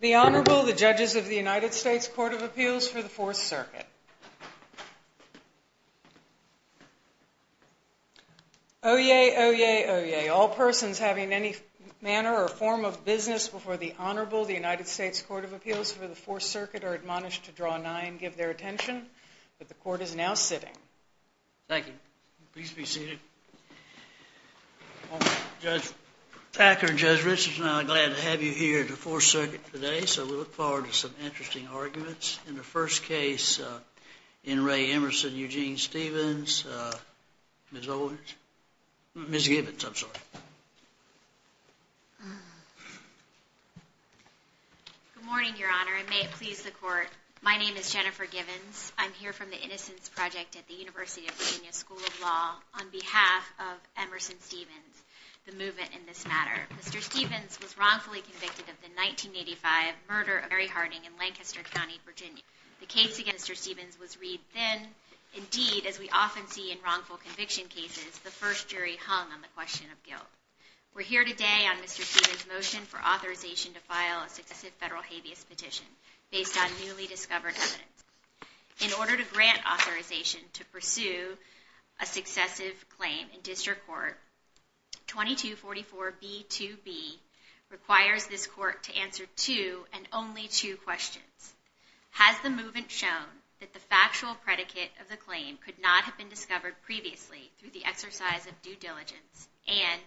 The Honorable, the Judges of the United States Court of Appeals for the Fourth Circuit. Oyez! Oyez! Oyez! All persons having any manner or form of business before the Honorable, the United States Court of Appeals for the Fourth Circuit are admonished to draw nigh and give their attention, but the Court is now sitting. Thank you. Please be seated. Judge Packer and Judge Richardson, I'm glad to have you here at the Fourth Circuit today, so we look forward to some interesting arguments. In the first case, N. Ray Emerson, Eugene Stevens, Ms. Owens, Ms. Givens, I'm sorry. Good morning, Your Honor, and may it please the Court. My name is Jennifer Givens. I'm here from the Innocence Project at the University of Virginia School of Law on behalf of Emerson Stevens, the movement in this matter. Mr. Stevens was wrongfully convicted of the 1985 murder of Mary Harding in Lancaster County, Virginia. The case against Mr. Stevens was read thin. Indeed, as we often see in wrongful conviction cases, the first jury hung on the question of guilt. We're here today on Mr. Stevens' motion for authorization to file a successive federal based on newly discovered evidence. In order to grant authorization to pursue a successive claim in district court, 2244B2B requires this Court to answer two and only two questions. Has the movement shown that the factual predicate of the claim could not have been discovered previously through the exercise of due diligence? And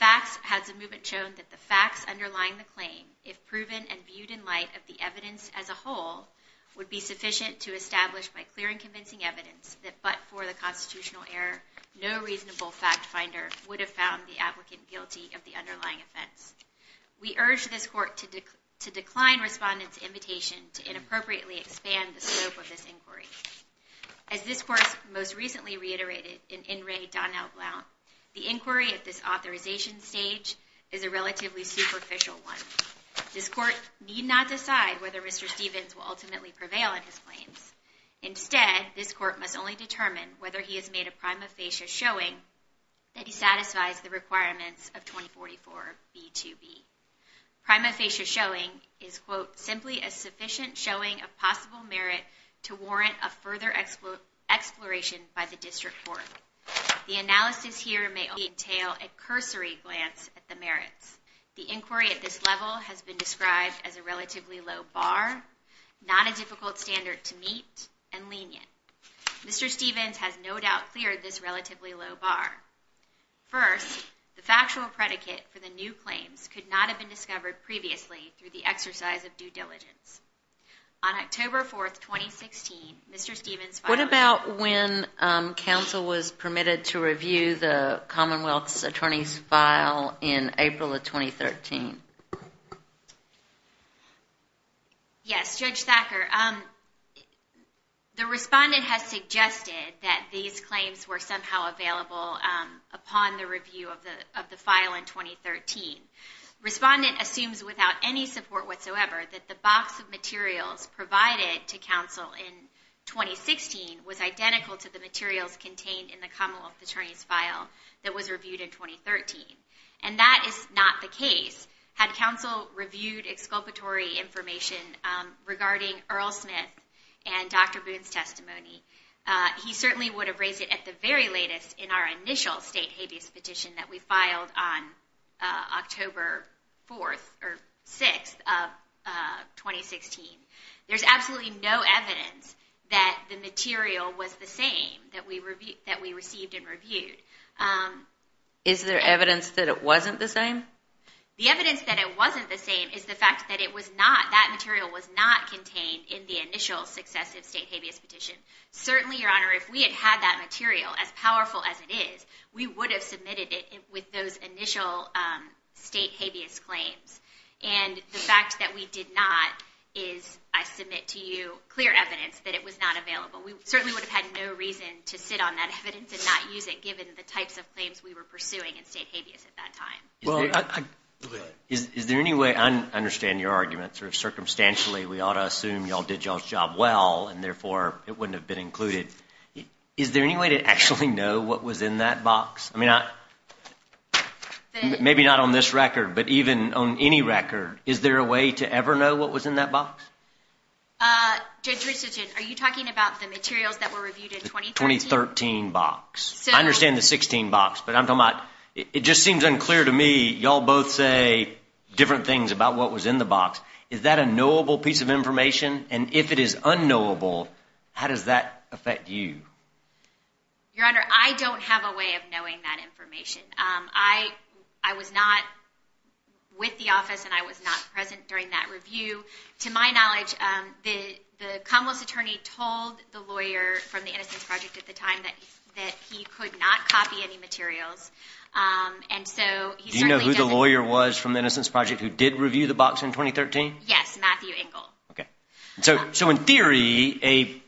has the movement shown that the facts underlying the claim, if proven and viewed in light of the evidence as a whole, would be sufficient to establish by clear and convincing evidence that but for the constitutional error, no reasonable fact finder would have found the applicant guilty of the underlying offense? We urge this Court to decline respondents' invitation to inappropriately expand the scope of this inquiry. As this Court most recently reiterated in In Re Donnell Blount, the inquiry at this authorization stage is a relatively superficial one. This Court need not decide whether Mr. Stevens will ultimately prevail in his claims. Instead, this Court must only determine whether he has made a prima facie showing that he satisfies the requirements of 2444B2B. Prima facie showing is, quote, simply a sufficient showing of possible merit to warrant a further exploration by the district court. The analysis here may only entail a cursory glance at the merits. The inquiry at this level has been described as a relatively low bar, not a difficult standard to meet, and lenient. Mr. Stevens has no doubt cleared this relatively low bar. First, the factual predicate for the new claims could not have been discovered previously through the exercise of due diligence. On October 4, 2016, Mr. Stevens filed... What about when counsel was permitted to review the Commonwealth's attorney's file in April of 2013? Yes, Judge Thacker, the respondent has suggested that these claims were somehow available upon the review of the file in 2013. Respondent assumes without any support whatsoever that the box of materials provided to counsel in 2016 was identical to the materials contained in the Commonwealth attorney's file that was reviewed in 2013. And that is not the case. Had counsel reviewed exculpatory information regarding Earl Smith and Dr. Boone's testimony, he certainly would have raised it at the very latest in our initial state habeas petition that we filed on October 4th or 6th of 2016. There's absolutely no evidence that the material was the same that we received and reviewed. Is there evidence that it wasn't the same? The evidence that it wasn't the same is the fact that that material was not contained in the initial successive state habeas petition. Certainly, Your Honor, if we had had that material, as powerful as it is, we would have submitted it with those initial state habeas claims. And the fact that we did not is, I submit to you, clear evidence that it was not available. We certainly would have had no reason to sit on that evidence and not use it given the types of claims we were pursuing in state habeas at that time. Is there any way, I understand your argument, sort of circumstantially we ought to assume y'all did y'all's job well, and therefore it wouldn't have been included. Is there any way to actually know what was in that box? I mean, maybe not on this record, but even on any record, is there a way to ever know what was in that box? Judge Richardson, are you talking about the materials that were reviewed in 2013? The 2013 box. I understand the 2016 box, but I'm talking about, it just seems unclear to me, y'all both say different things about what was in the box. Is that a knowable piece of information? And if it is unknowable, how does that affect you? Your Honor, I don't have a way of knowing that information. I was not with the office and I was not present during that review. To my knowledge, the Commonwealth's attorney told the lawyer from the Innocence Project at the time that he could not copy any materials. Do you know who the lawyer was from the Innocence Project who did review the box in 2013? Yes, Matthew Ingle. So in theory, a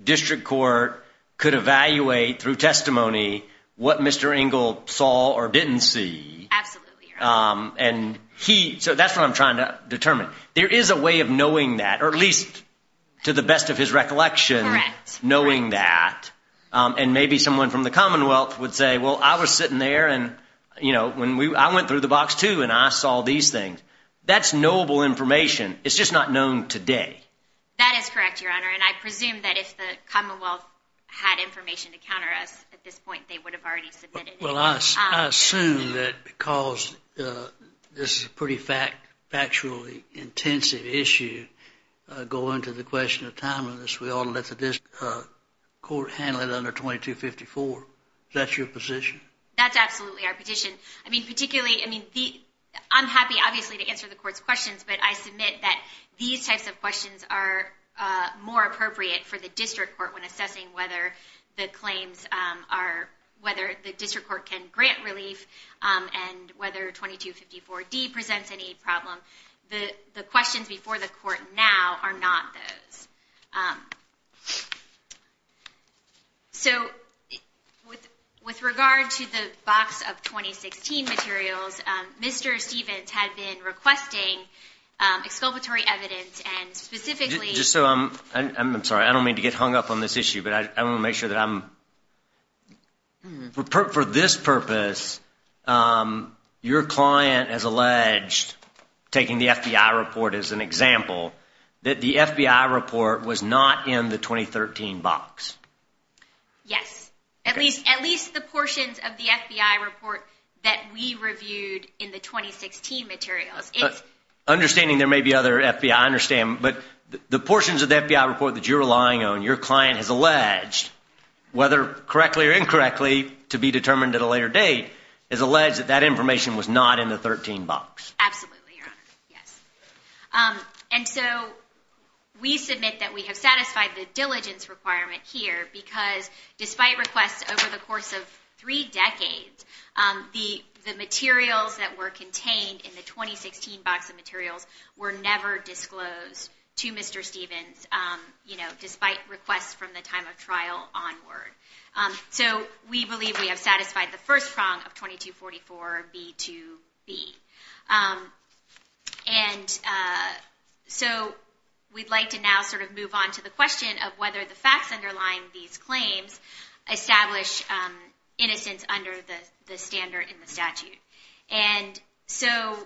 district court could evaluate through testimony what Mr. Ingle saw or didn't see. Absolutely, Your Honor. So that's what I'm trying to determine. There is a way of knowing that, or at least to the best of his recollection, knowing that. And maybe someone from the Commonwealth would say, well, I was sitting there and I went through the box too and I saw these things. That's knowable information. It's just not known today. That is correct, Your Honor, and I presume that if the Commonwealth had information to counter us at this point, they would have already submitted it. Well, I assume that because this is a pretty factually intensive issue, going to the question of timeliness, we ought to let the court handle it under 2254. Is that your position? That's absolutely our position. I mean, particularly, I mean, I'm happy, obviously, to answer the court's questions, but I submit that these types of questions are more appropriate for the district court when assessing whether the claims are, whether the district court can grant relief and whether 2254D presents any problem. The questions before the court now are not those. So with regard to the box of 2016 materials, Mr. Stevens had been requesting exculpatory evidence and specifically – Just so I'm – I'm sorry. I don't mean to get hung up on this issue, but I want to make sure that I'm – For this purpose, your client has alleged, taking the FBI report as an example, that the FBI report was not in the 2013 box. Yes. At least the portions of the FBI report that we reviewed in the 2016 materials. Understanding there may be other FBI, I understand, but the portions of the FBI report that you're relying on, your client has alleged, whether correctly or incorrectly, to be determined at a later date, has alleged that that information was not in the 2013 box. Absolutely, Your Honor, yes. And so we submit that we have satisfied the diligence requirement here because despite requests over the course of three decades, the materials that were contained in the 2016 box of materials were never disclosed to Mr. Stevens, you know, despite requests from the time of trial onward. So we believe we have satisfied the first prong of 2244B2B. And so we'd like to now sort of move on to the question of whether the facts underlying these claims And so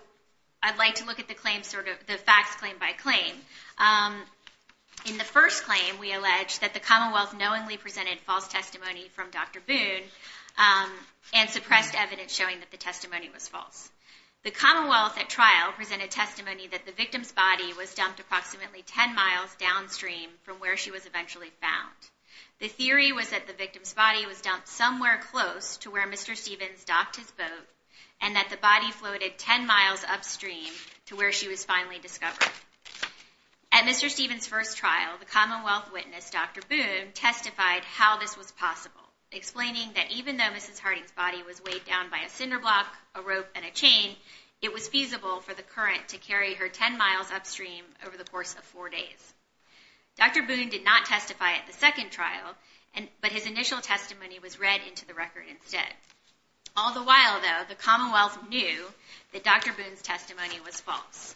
I'd like to look at the facts claim by claim. In the first claim, we allege that the Commonwealth knowingly presented false testimony from Dr. Boone and suppressed evidence showing that the testimony was false. The Commonwealth at trial presented testimony that the victim's body was dumped approximately 10 miles downstream from where she was eventually found. The theory was that the victim's body was dumped somewhere close to where Mr. Stevens docked his boat and that the body floated 10 miles upstream to where she was finally discovered. At Mr. Stevens' first trial, the Commonwealth witness, Dr. Boone, testified how this was possible, explaining that even though Mrs. Harding's body was weighed down by a cinder block, a rope, and a chain, it was feasible for the current to carry her 10 miles upstream over the course of four days. Dr. Boone did not testify at the second trial, but his initial testimony was read into the record instead. All the while, though, the Commonwealth knew that Dr. Boone's testimony was false.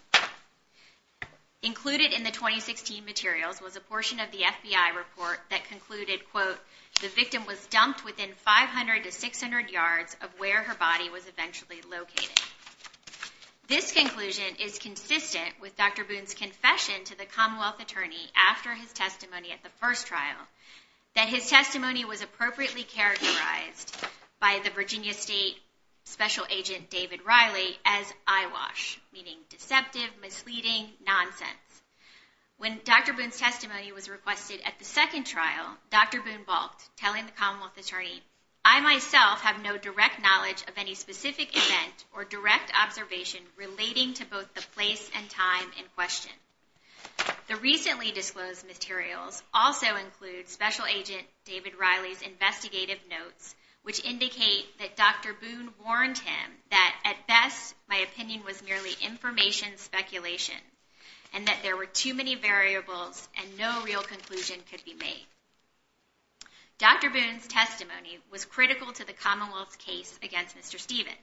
Included in the 2016 materials was a portion of the FBI report that concluded, quote, the victim was dumped within 500 to 600 yards of where her body was eventually located. This conclusion is consistent with Dr. Boone's confession to the Commonwealth attorney after his testimony at the first trial, that his testimony was appropriately characterized by the Virginia State Special Agent David Riley as eyewash, meaning deceptive, misleading, nonsense. When Dr. Boone's testimony was requested at the second trial, Dr. Boone balked, telling the Commonwealth attorney, I myself have no direct knowledge of any specific event or direct observation relating to both the place and time in question. The recently disclosed materials also include Special Agent David Riley's investigative notes, which indicate that Dr. Boone warned him that at best my opinion was merely information speculation and that there were too many variables and no real conclusion could be made. Dr. Boone's testimony was critical to the Commonwealth's case against Mr. Stevens.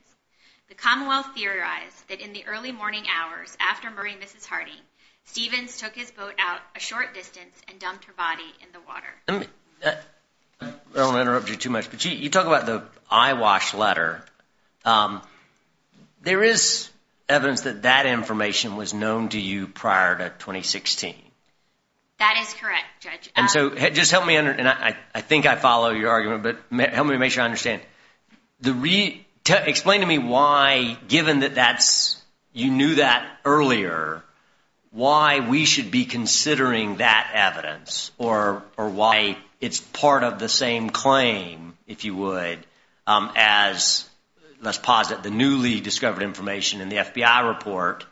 The Commonwealth theorized that in the early morning hours after Murray Mrs. Harding, Stevens took his boat out a short distance and dumped her body in the water. I don't want to interrupt you too much, but you talk about the eyewash letter. There is evidence that that information was known to you prior to 2016. That is correct, Judge. I think I follow your argument, but help me make sure I understand. Explain to me why, given that you knew that earlier, why we should be considering that evidence or why it's part of the same claim, if you would, as, let's posit, the newly discovered information in the FBI report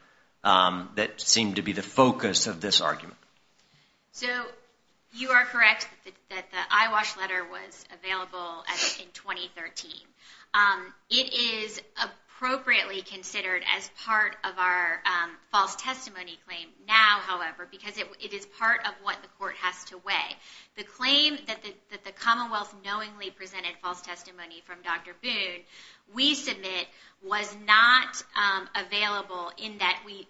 that seemed to be the focus of this argument. You are correct that the eyewash letter was available in 2013. It is appropriately considered as part of our false testimony claim now, however, because it is part of what the Court has to weigh. The claim that the Commonwealth knowingly presented false testimony from Dr. Boone, we submit was not available in that we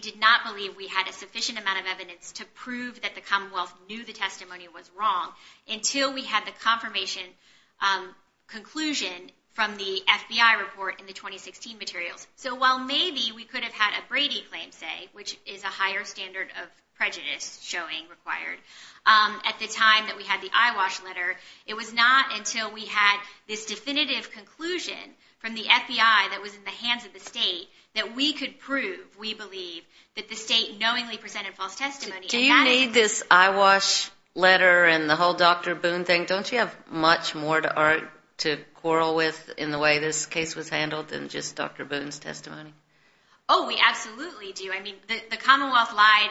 did not believe we had a sufficient amount of evidence to prove that the Commonwealth knew the testimony was wrong until we had the confirmation conclusion from the FBI report in the 2016 materials. So while maybe we could have had a Brady claim, say, which is a higher standard of prejudice showing required at the time that we had the eyewash letter, it was not until we had this definitive conclusion from the FBI that was in the hands of the state that we could prove, we believe, that the state knowingly presented false testimony. Do you need this eyewash letter and the whole Dr. Boone thing? Don't you have much more to quarrel with in the way this case was handled than just Dr. Boone's testimony? Oh, we absolutely do. I mean, the Commonwealth lied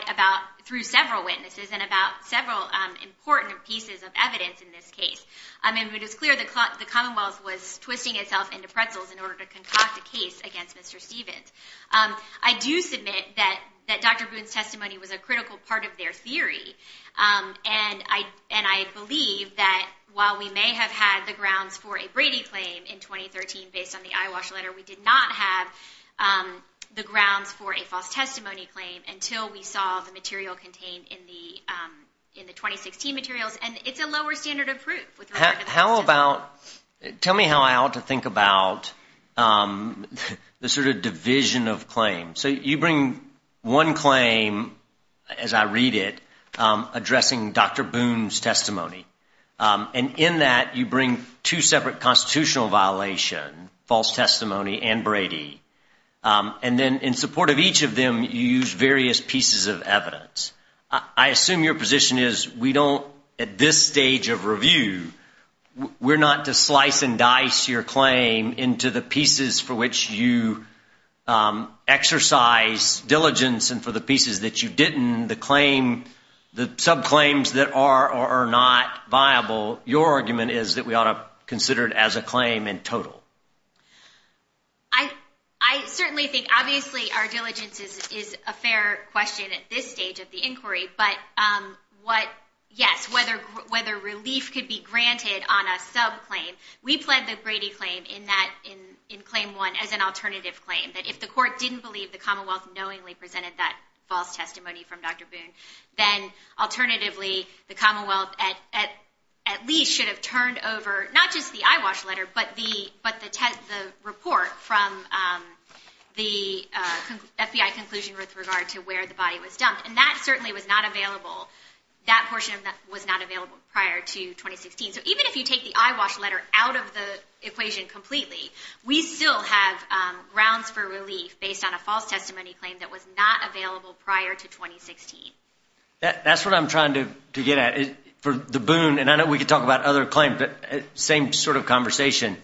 through several witnesses and about several important pieces of evidence in this case. I mean, it was clear the Commonwealth was twisting itself into pretzels in order to concoct a case against Mr. Stevens. I do submit that Dr. Boone's testimony was a critical part of their theory, and I believe that while we may have had the grounds for a Brady claim in 2013 based on the eyewash letter, we did not have the grounds for a false testimony claim until we saw the material contained in the 2016 materials, and it's a lower standard of proof with regard to that. Tell me how I ought to think about the sort of division of claims. So you bring one claim, as I read it, addressing Dr. Boone's testimony, and in that you bring two separate constitutional violations, false testimony and Brady, and then in support of each of them you use various pieces of evidence. I assume your position is we don't at this stage of review, we're not to slice and dice your claim into the pieces for which you exercise diligence and for the pieces that you didn't, the claim, the subclaims that are or are not viable, your argument is that we ought to consider it as a claim in total. I certainly think obviously our diligence is a fair question at this stage of the inquiry, but yes, whether relief could be granted on a subclaim. We pled the Brady claim in claim one as an alternative claim, that if the court didn't believe the Commonwealth knowingly presented that false testimony from Dr. Boone, then alternatively the Commonwealth at least should have turned over not just the eyewash letter, but the report from the FBI conclusion with regard to where the body was dumped, and that certainly was not available, that portion of that was not available prior to 2016. So even if you take the eyewash letter out of the equation completely, we still have grounds for relief based on a false testimony claim that was not available prior to 2016. That's what I'm trying to get at. For the Boone, and I know we could talk about other claims, but same sort of conversation.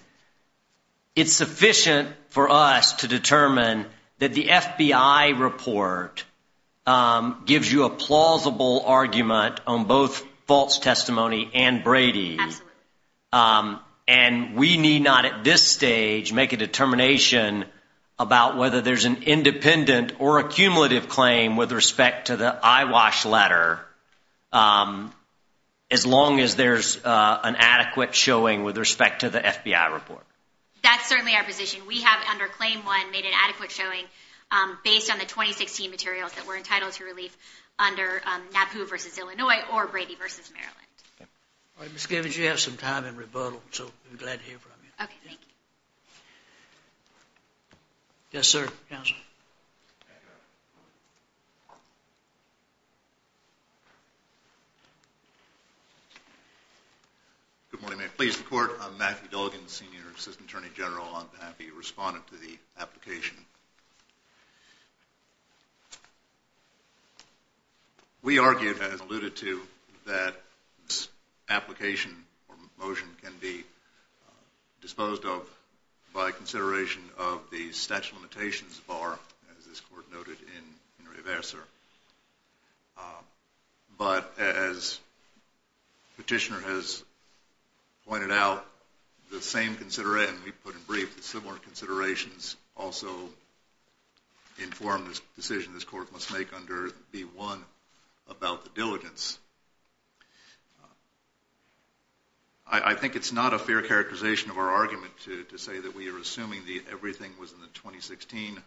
It's sufficient for us to determine that the FBI report gives you a plausible argument on both false testimony and Brady. Absolutely. And we need not at this stage make a determination about whether there's an independent or a cumulative claim with respect to the eyewash letter as long as there's an adequate showing with respect to the FBI report. That's certainly our position. We have under claim one made an adequate showing based on the 2016 materials that were entitled to relief under NAPU v. Illinois or Brady v. Maryland. All right, Ms. Gibbons, you have some time in rebuttal, so I'm glad to hear from you. Okay, thank you. Yes, sir. Good morning. Pleased to report, I'm Matthew Duggan, Senior Assistant Attorney General, on behalf of the respondent to the application. We argue, as alluded to, that this application or motion can be disposed of by consideration of the statute of limitations bar, as this Court noted in reverser. But as Petitioner has pointed out, the same consideration we put in brief, the similar considerations also inform the decision this Court must make under B-1 about the diligence. I think it's not a fair characterization of our argument to say that we are assuming that everything was in the 2016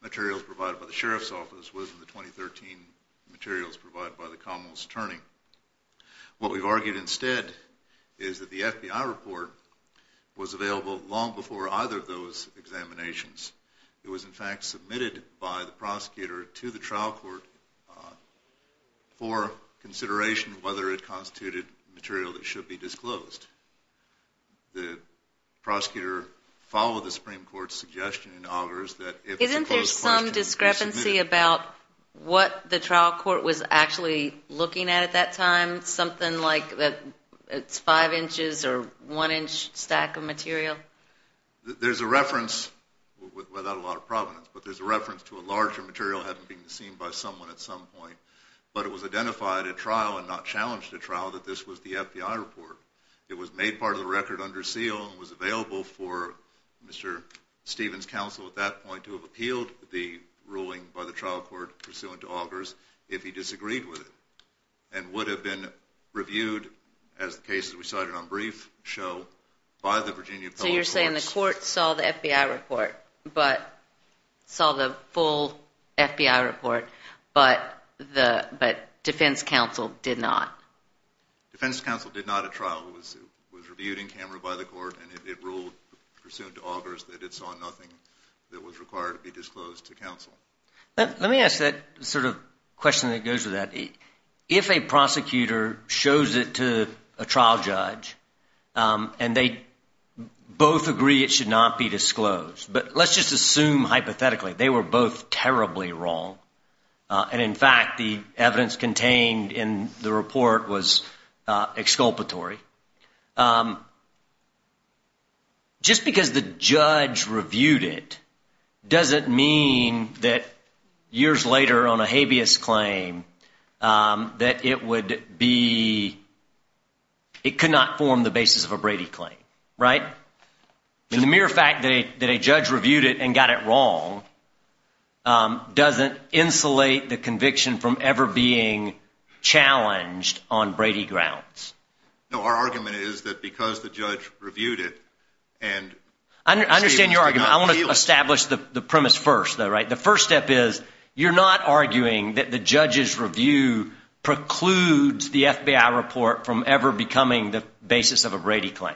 materials provided by the Sheriff's Office was in the 2013 materials provided by the Commonwealth's Attorney. What we've argued instead is that the FBI report was available long before either of those examinations. It was, in fact, submitted by the prosecutor to the trial court for consideration of whether it constituted material that should be disclosed. The prosecutor followed the Supreme Court's suggestion in August that if it's a closed question, it should be submitted. Do you have any idea about what the trial court was actually looking at at that time? Something like five inches or one-inch stack of material? There's a reference, without a lot of provenance, but there's a reference to a larger material having been seen by someone at some point. But it was identified at trial and not challenged at trial that this was the FBI report. It was made part of the record under seal and was available for Mr. Stevens' counsel at that point to have appealed the ruling by the trial court pursuant to Augers if he disagreed with it and would have been reviewed, as the cases we cited on brief show, by the Virginia Appellate Court. So you're saying the court saw the FBI report, saw the full FBI report, but defense counsel did not? Defense counsel did not at trial. It was reviewed in camera by the court, and it ruled pursuant to Augers that it saw nothing that was required to be disclosed to counsel. Let me ask that sort of question that goes with that. If a prosecutor shows it to a trial judge and they both agree it should not be disclosed, but let's just assume hypothetically they were both terribly wrong, and, in fact, the evidence contained in the report was exculpatory, just because the judge reviewed it doesn't mean that years later on a habeas claim that it would be – it could not form the basis of a Brady claim, right? The mere fact that a judge reviewed it and got it wrong doesn't insulate the conviction from ever being challenged on Brady grounds. No, our argument is that because the judge reviewed it and – I understand your argument. I want to establish the premise first, though, right? The first step is you're not arguing that the judge's review precludes the FBI report from ever becoming the basis of a Brady claim.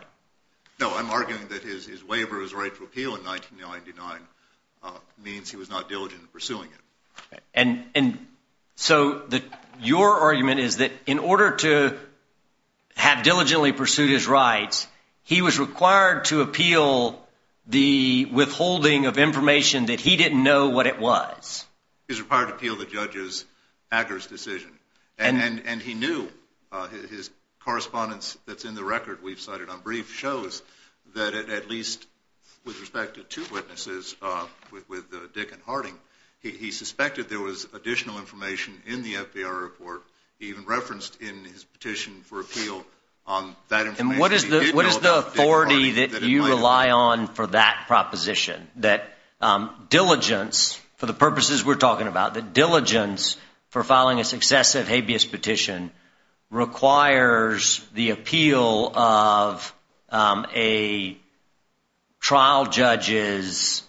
No, I'm arguing that his waiver of his right to appeal in 1999 means he was not diligent in pursuing it. And so your argument is that in order to have diligently pursued his rights, he was required to appeal the withholding of information that he didn't know what it was. He was required to appeal the judge's, Agger's, decision. And he knew. His correspondence that's in the record we've cited on brief shows that it at least, with respect to two witnesses, with Dick and Harding, he suspected there was additional information in the FBI report. He even referenced in his petition for appeal on that information. What is the authority that you rely on for that proposition, that diligence, for the purposes we're talking about, that diligence for filing a successive habeas petition requires the appeal of a trial judge's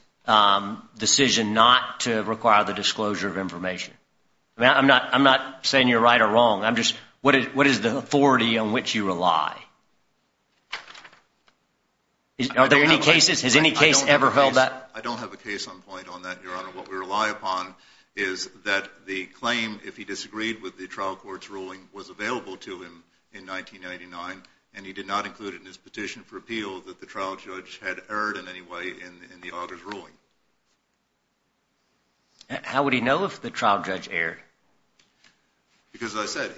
decision not to require the disclosure of information? I'm not saying you're right or wrong. I'm just, what is the authority on which you rely? Are there any cases? Has any case ever held that? I don't have a case on point on that, Your Honor. What we rely upon is that the claim, if he disagreed with the trial court's ruling, was available to him in 1999, and he did not include in his petition for appeal that the trial judge had erred in any way in the Agger's ruling. How would he know if the trial judge erred? Because, as I said,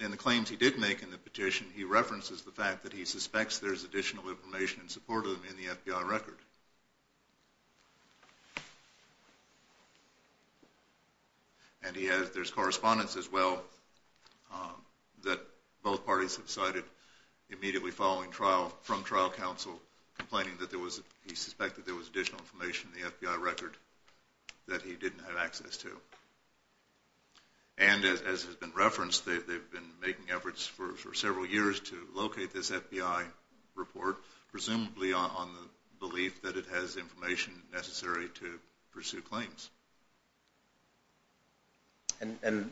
in the claims he did make in the petition, he references the fact that he suspects there's additional information in support of them in the FBI record. And there's correspondence as well that both parties have cited immediately following trial, from trial counsel, complaining that he suspected there was additional information in the FBI record that he didn't have access to. And, as has been referenced, they've been making efforts for several years to locate this FBI report, presumably on the belief that it has information necessary to pursue claims. And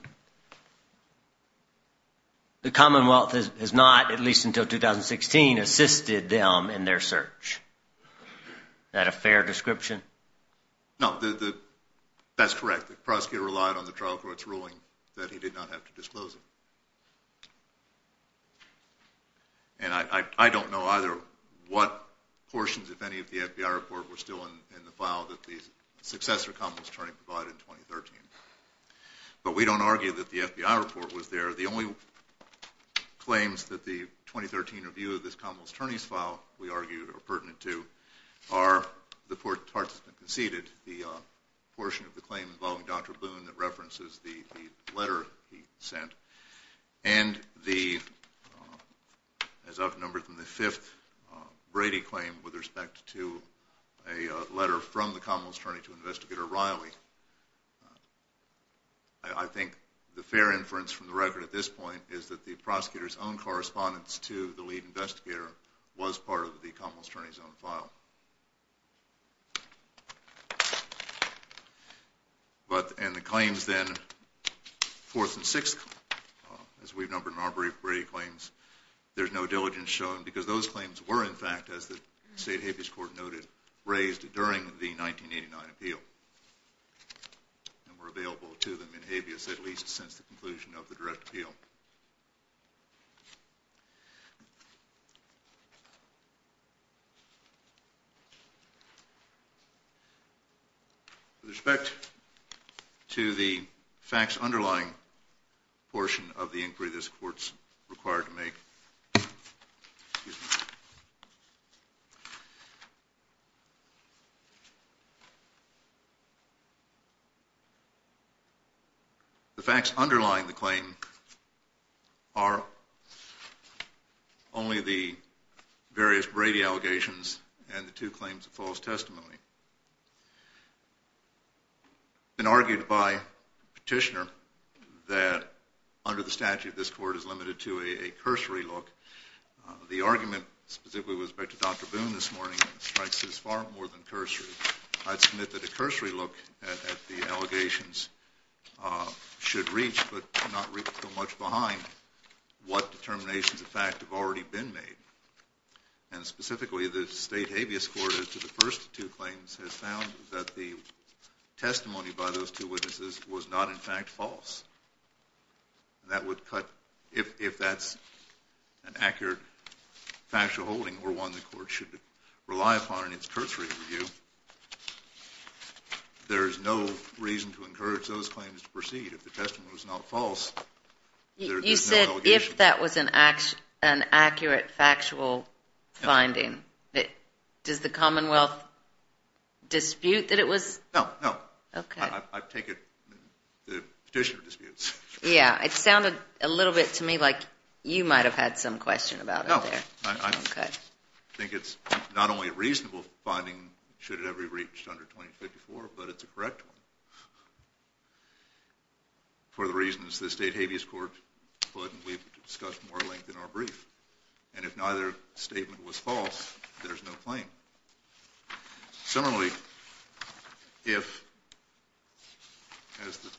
the Commonwealth has not, at least until 2016, assisted them in their search. Is that a fair description? No, that's correct. The prosecutor relied on the trial court's ruling that he did not have to disclose it. And I don't know either what portions, if any, of the FBI report were still in the file that the successor Commonwealth attorney provided in 2013. But we don't argue that the FBI report was there. The only claims that the 2013 review of this Commonwealth attorney's file, we argue, are pertinent to are the part that has been conceded, the portion of the claim involving Dr. Boone that references the letter he sent, and the, as I've numbered them, the fifth Brady claim with respect to a letter from the Commonwealth attorney to Investigator Riley. I think the fair inference from the record at this point is that the prosecutor's own correspondence to the lead investigator was part of the Commonwealth attorney's own file. And the claims then, fourth and sixth, as we've numbered in our brief, Brady claims, there's no diligence shown because those claims were, in fact, as the state habeas court noted, raised during the 1989 appeal and were available to them in habeas at least since the conclusion of the direct appeal. With respect to the facts underlying portion of the inquiry this court's required to make, the facts underlying the claim are only the various Brady allegations and the two claims of false testimony. It's been argued by the petitioner that under the statute this court is limited to a cursory look. The argument specifically with respect to Dr. Boone this morning strikes as far more than cursory. I'd submit that a cursory look at the allegations should reach, but not reach so much behind, what determinations of fact have already been made. And specifically, the state habeas court, as to the first two claims, has found that the testimony by those two witnesses was not, in fact, false. And that would cut, if that's an accurate factual holding or one the court should rely upon in its cursory review, there is no reason to encourage those claims to proceed. If the testimony was not false, there is no allegation. You said if that was an accurate factual finding. Does the Commonwealth dispute that it was? No, no. Okay. I take it the petitioner disputes. Yeah, it sounded a little bit to me like you might have had some question about it. No. Okay. I think it's not only a reasonable finding, should it ever be reached under 2054, but it's a correct one. For the reasons the state habeas court put, and we've discussed more length in our brief. And if neither statement was false, there's no claim. Similarly, if, as the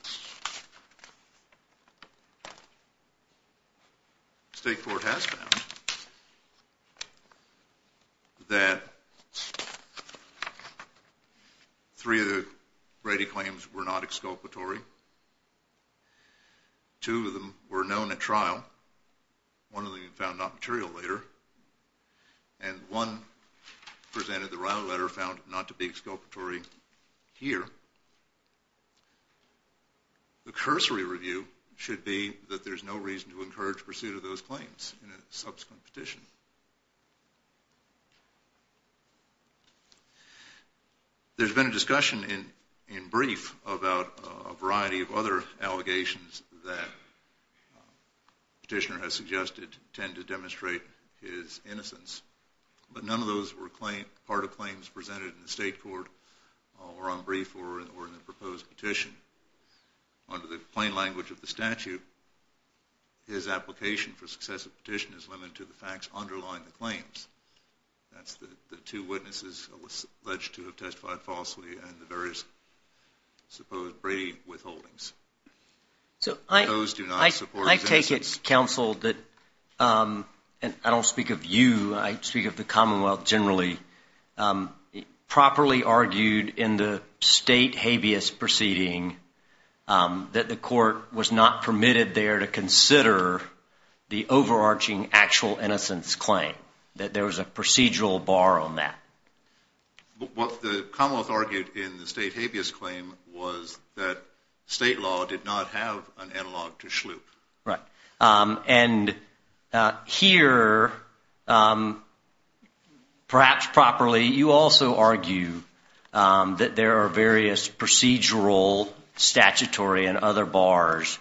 state court has found, that three of the Brady claims were not exculpatory, two of them were known at trial, one of them you found not material later, and one presented the round letter found not to be exculpatory here, the cursory review should be that there's no reason to encourage pursuit of those claims in a subsequent petition. There's been a discussion in brief about a variety of other allegations that the petitioner has suggested that tend to demonstrate his innocence. But none of those were part of claims presented in the state court or on brief or in the proposed petition. Under the plain language of the statute, his application for successive petition is limited to the facts underlying the claims. That's the two witnesses alleged to have testified falsely and the various supposed Brady withholdings. Those do not support his innocence. I take it, counsel, that, and I don't speak of you, I speak of the Commonwealth generally, properly argued in the state habeas proceeding that the court was not permitted there to consider the overarching actual innocence claim, that there was a procedural bar on that. What the Commonwealth argued in the state habeas claim was that state law did not have an analog to Shloop. Right. And here, perhaps properly, you also argue that there are various procedural, statutory, and other bars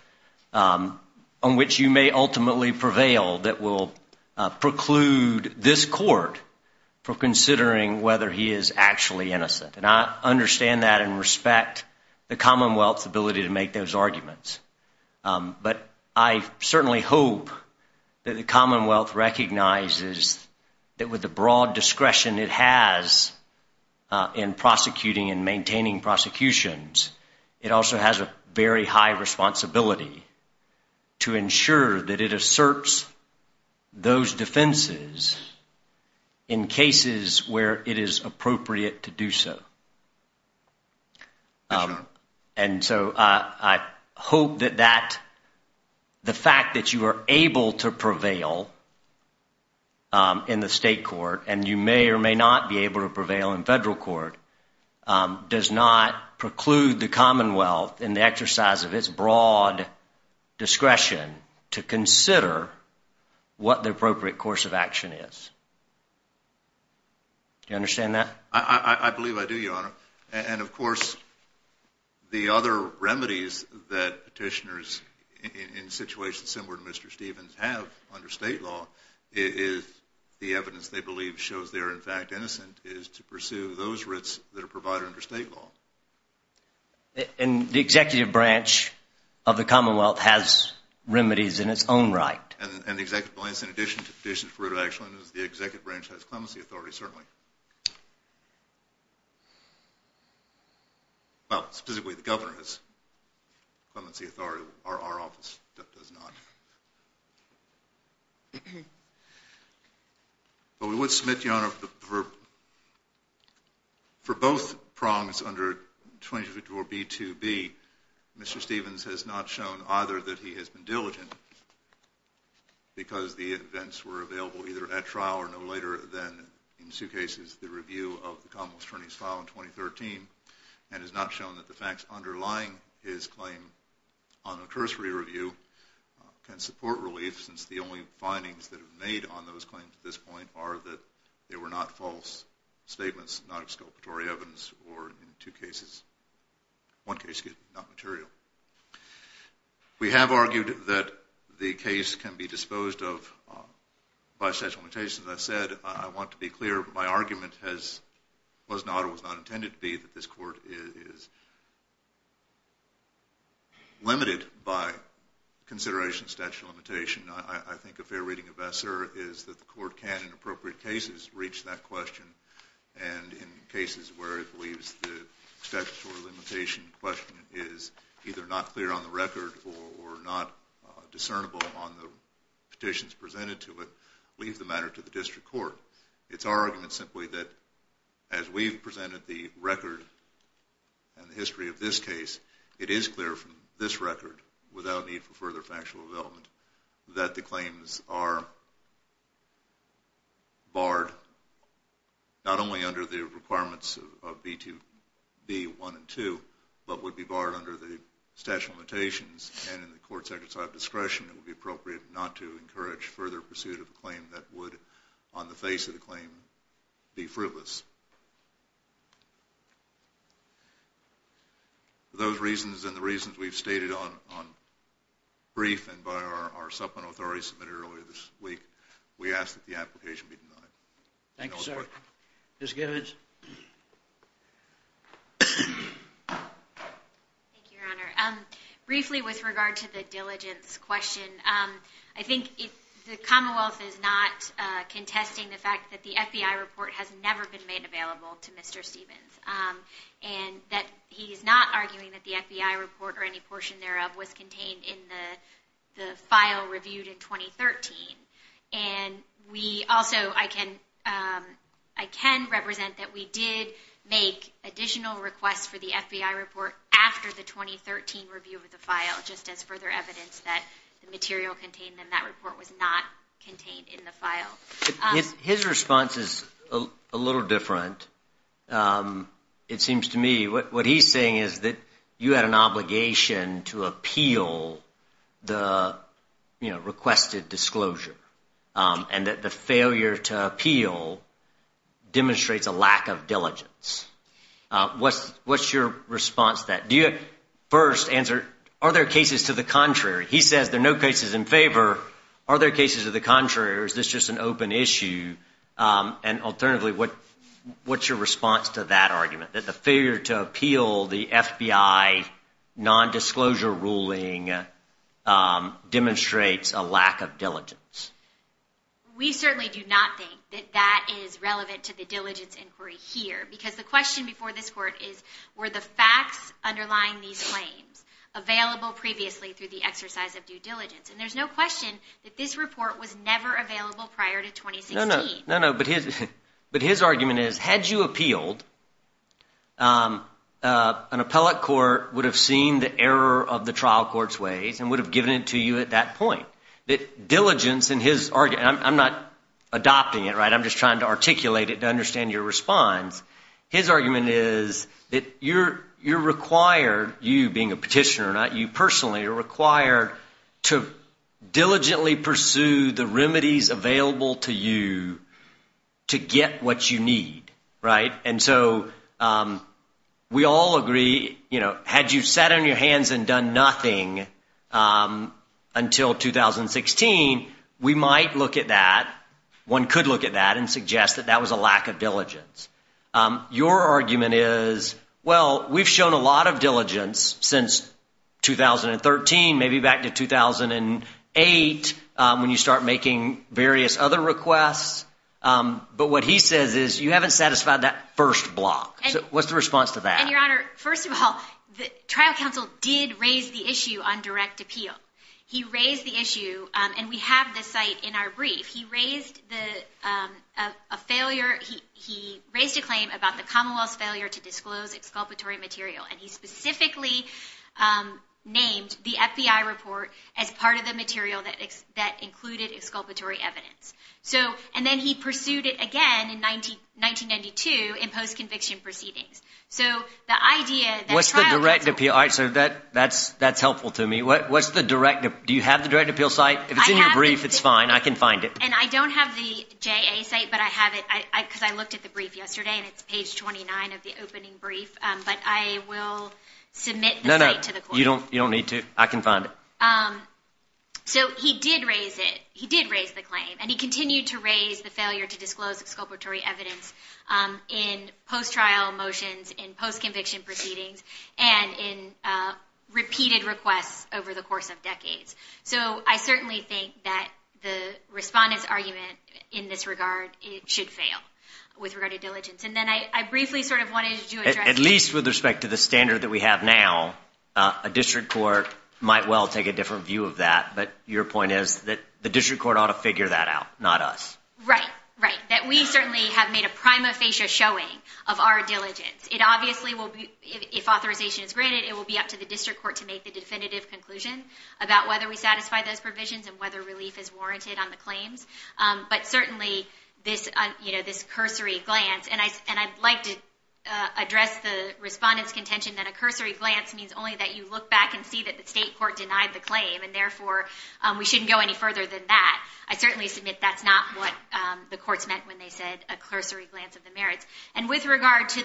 on which you may ultimately prevail that will preclude this court from considering whether he is actually innocent. And I understand that and respect the Commonwealth's ability to make those arguments. But I certainly hope that the Commonwealth recognizes that with the broad discretion it has in prosecuting and maintaining prosecutions, it also has a very high responsibility to ensure that it asserts those defenses in cases where it is appropriate to do so. And so I hope that the fact that you are able to prevail in the state court and you may or may not be able to prevail in federal court does not preclude the Commonwealth in the exercise of its broad discretion to consider what the appropriate course of action is. Do you understand that? I believe I do, Your Honor. And, of course, the other remedies that petitioners in situations similar to Mr. Stevens have under state law is the evidence they believe shows they are, in fact, innocent, is to pursue those writs that are provided under state law. And the executive branch of the Commonwealth has remedies in its own right. And the executive branch, in addition to the petition for writ of action, the executive branch has clemency authority, certainly. Well, specifically, the governor has clemency authority. Our office does not. But we would submit, Your Honor, for both prongs under 252 or B2B, Mr. Stevens has not shown either that he has been diligent because the events were available either at trial or no later than, in two cases, the review of the Commonwealth's attorneys' file in 2013, and has not shown that the facts underlying his claim on the cursory review can support relief, since the only findings that have been made on those claims at this point are that they were not false statements, not exculpatory evidence, or in two cases, one case not material. We have argued that the case can be disposed of by statute of limitations. As I said, I want to be clear, my argument was not or was not intended to be that this court is limited by consideration of statute of limitations. I think a fair reading of Vassar is that the court can, in appropriate cases, reach that question. And in cases where it believes the statute of limitations question is either not clear on the record or not discernible on the petitions presented to it, leave the matter to the district court. It's our argument simply that, as we've presented the record and the history of this case, it is clear from this record, without need for further factual development, that the claims are barred not only under the requirements of B-1 and 2, but would be barred under the statute of limitations. And in the court's exercise of discretion, it would be appropriate not to encourage further pursuit of a claim that would, on the face of the claim, be fruitless. For those reasons and the reasons we've stated on brief and by our supplement authority submitted earlier this week, we ask that the application be denied. Thank you, sir. Ms. Givens. Thank you, Your Honor. Briefly, with regard to the diligence question, I think the Commonwealth is not contesting the fact that the FBI report has never been made public. And that he is not arguing that the FBI report or any portion thereof was contained in the file reviewed in 2013. And we also, I can represent that we did make additional requests for the FBI report after the 2013 review of the file, just as further evidence that the material contained in that report was not contained in the file. His response is a little different, it seems to me. What he's saying is that you had an obligation to appeal the requested disclosure and that the failure to appeal demonstrates a lack of diligence. What's your response to that? First, answer, are there cases to the contrary? He says there are no cases in favor. Are there cases to the contrary, or is this just an open issue? And alternatively, what's your response to that argument, that the failure to appeal the FBI nondisclosure ruling demonstrates a lack of diligence? We certainly do not think that that is relevant to the diligence inquiry here, because the question before this Court is, were the facts underlying these claims available previously through the exercise of due diligence? And there's no question that this report was never available prior to 2016. No, no, but his argument is, had you appealed, an appellate court would have seen the error of the trial court's ways and would have given it to you at that point. Diligence in his argument, and I'm not adopting it, right, I'm just trying to articulate it to understand your response. His argument is that you're required, you being a petitioner or not, you personally are required to diligently pursue the remedies available to you to get what you need, right? And so we all agree, you know, had you sat on your hands and done nothing until 2016, we might look at that, one could look at that and suggest that that was a lack of diligence. Your argument is, well, we've shown a lot of diligence since 2013, maybe back to 2008, when you start making various other requests, but what he says is you haven't satisfied that first block. So what's the response to that? And, Your Honor, first of all, the trial counsel did raise the issue on direct appeal. He raised the issue, and we have this site in our brief. He raised a claim about the Commonwealth's failure to disclose exculpatory material, and he specifically named the FBI report as part of the material that included exculpatory evidence. And then he pursued it again in 1992 in post-conviction proceedings. What's the direct appeal? All right, so that's helpful to me. What's the direct appeal? Do you have the direct appeal site? If it's in your brief, it's fine. I can find it. And I don't have the JA site, but I have it because I looked at the brief yesterday, and it's page 29 of the opening brief, but I will submit the site to the court. No, no, you don't need to. I can find it. So he did raise it. He did raise the claim, and he continued to raise the failure to disclose exculpatory evidence in post-trial motions, in post-conviction proceedings, and in repeated requests over the course of decades. So I certainly think that the respondent's argument in this regard should fail with regard to diligence. And then I briefly sort of wanted to address this. At least with respect to the standard that we have now, a district court might well take a different view of that, but your point is that the district court ought to figure that out, not us. Right, right. That we certainly have made a prima facie showing of our diligence. It obviously will be, if authorization is granted, it will be up to the district court to make the definitive conclusion about whether we satisfy those provisions and whether relief is warranted on the claims. But certainly this cursory glance, and I'd like to address the respondent's contention that a cursory glance means only that you look back and see that the state court denied the claim, and therefore we shouldn't go any further than that. I certainly submit that's not what the courts meant when they said a cursory glance of the merits. And with regard to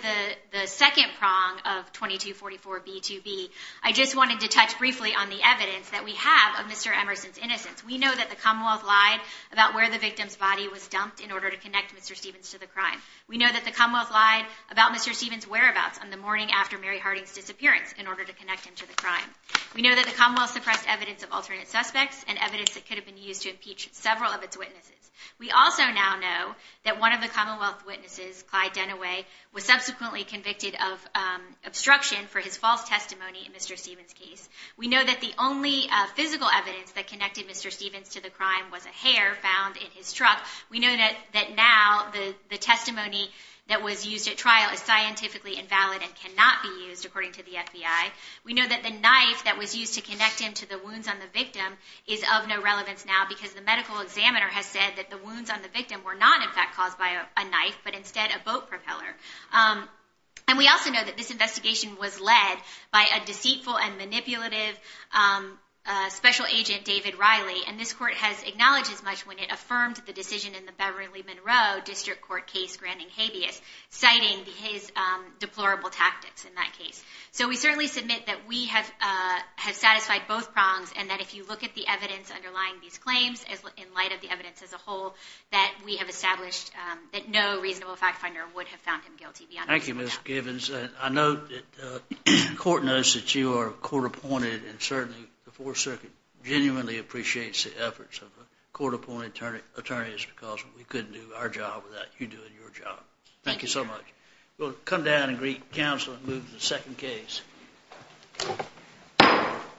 the second prong of 2244B2B, I just wanted to touch briefly on the evidence that we have of Mr. Emerson's innocence. We know that the Commonwealth lied about where the victim's body was dumped in order to connect Mr. Stevens to the crime. We know that the Commonwealth lied about Mr. Stevens' whereabouts on the morning after Mary Harding's disappearance in order to connect him to the crime. We know that the Commonwealth suppressed evidence of alternate suspects and evidence that could have been used to impeach several of its witnesses. We also now know that one of the Commonwealth's witnesses, Clyde Dunaway, was subsequently convicted of obstruction for his false testimony in Mr. Stevens' case. We know that the only physical evidence that connected Mr. Stevens to the crime was a hair found in his truck. We know that now the testimony that was used at trial is scientifically invalid and cannot be used, according to the FBI. We know that the knife that was used to connect him to the wounds on the victim is of no relevance now because the medical examiner has said that the wounds on the victim were not, in fact, caused by a knife, but instead a boat propeller. And we also know that this investigation was led by a deceitful and manipulative special agent, David Riley, and this Court has acknowledged as much when it affirmed the decision in the Beverly Monroe District Court case granting habeas, citing his deplorable tactics in that case. So we certainly submit that we have satisfied both prongs and that if you look at the evidence underlying these claims, in light of the evidence as a whole, that we have established that no reasonable fact finder would have found him guilty. Thank you, Ms. Givens. I note that the Court knows that you are court-appointed, and certainly the Fourth Circuit genuinely appreciates the efforts of court-appointed attorneys because we couldn't do our job without you doing your job. Thank you so much. We'll come down and greet counsel and move to the second case.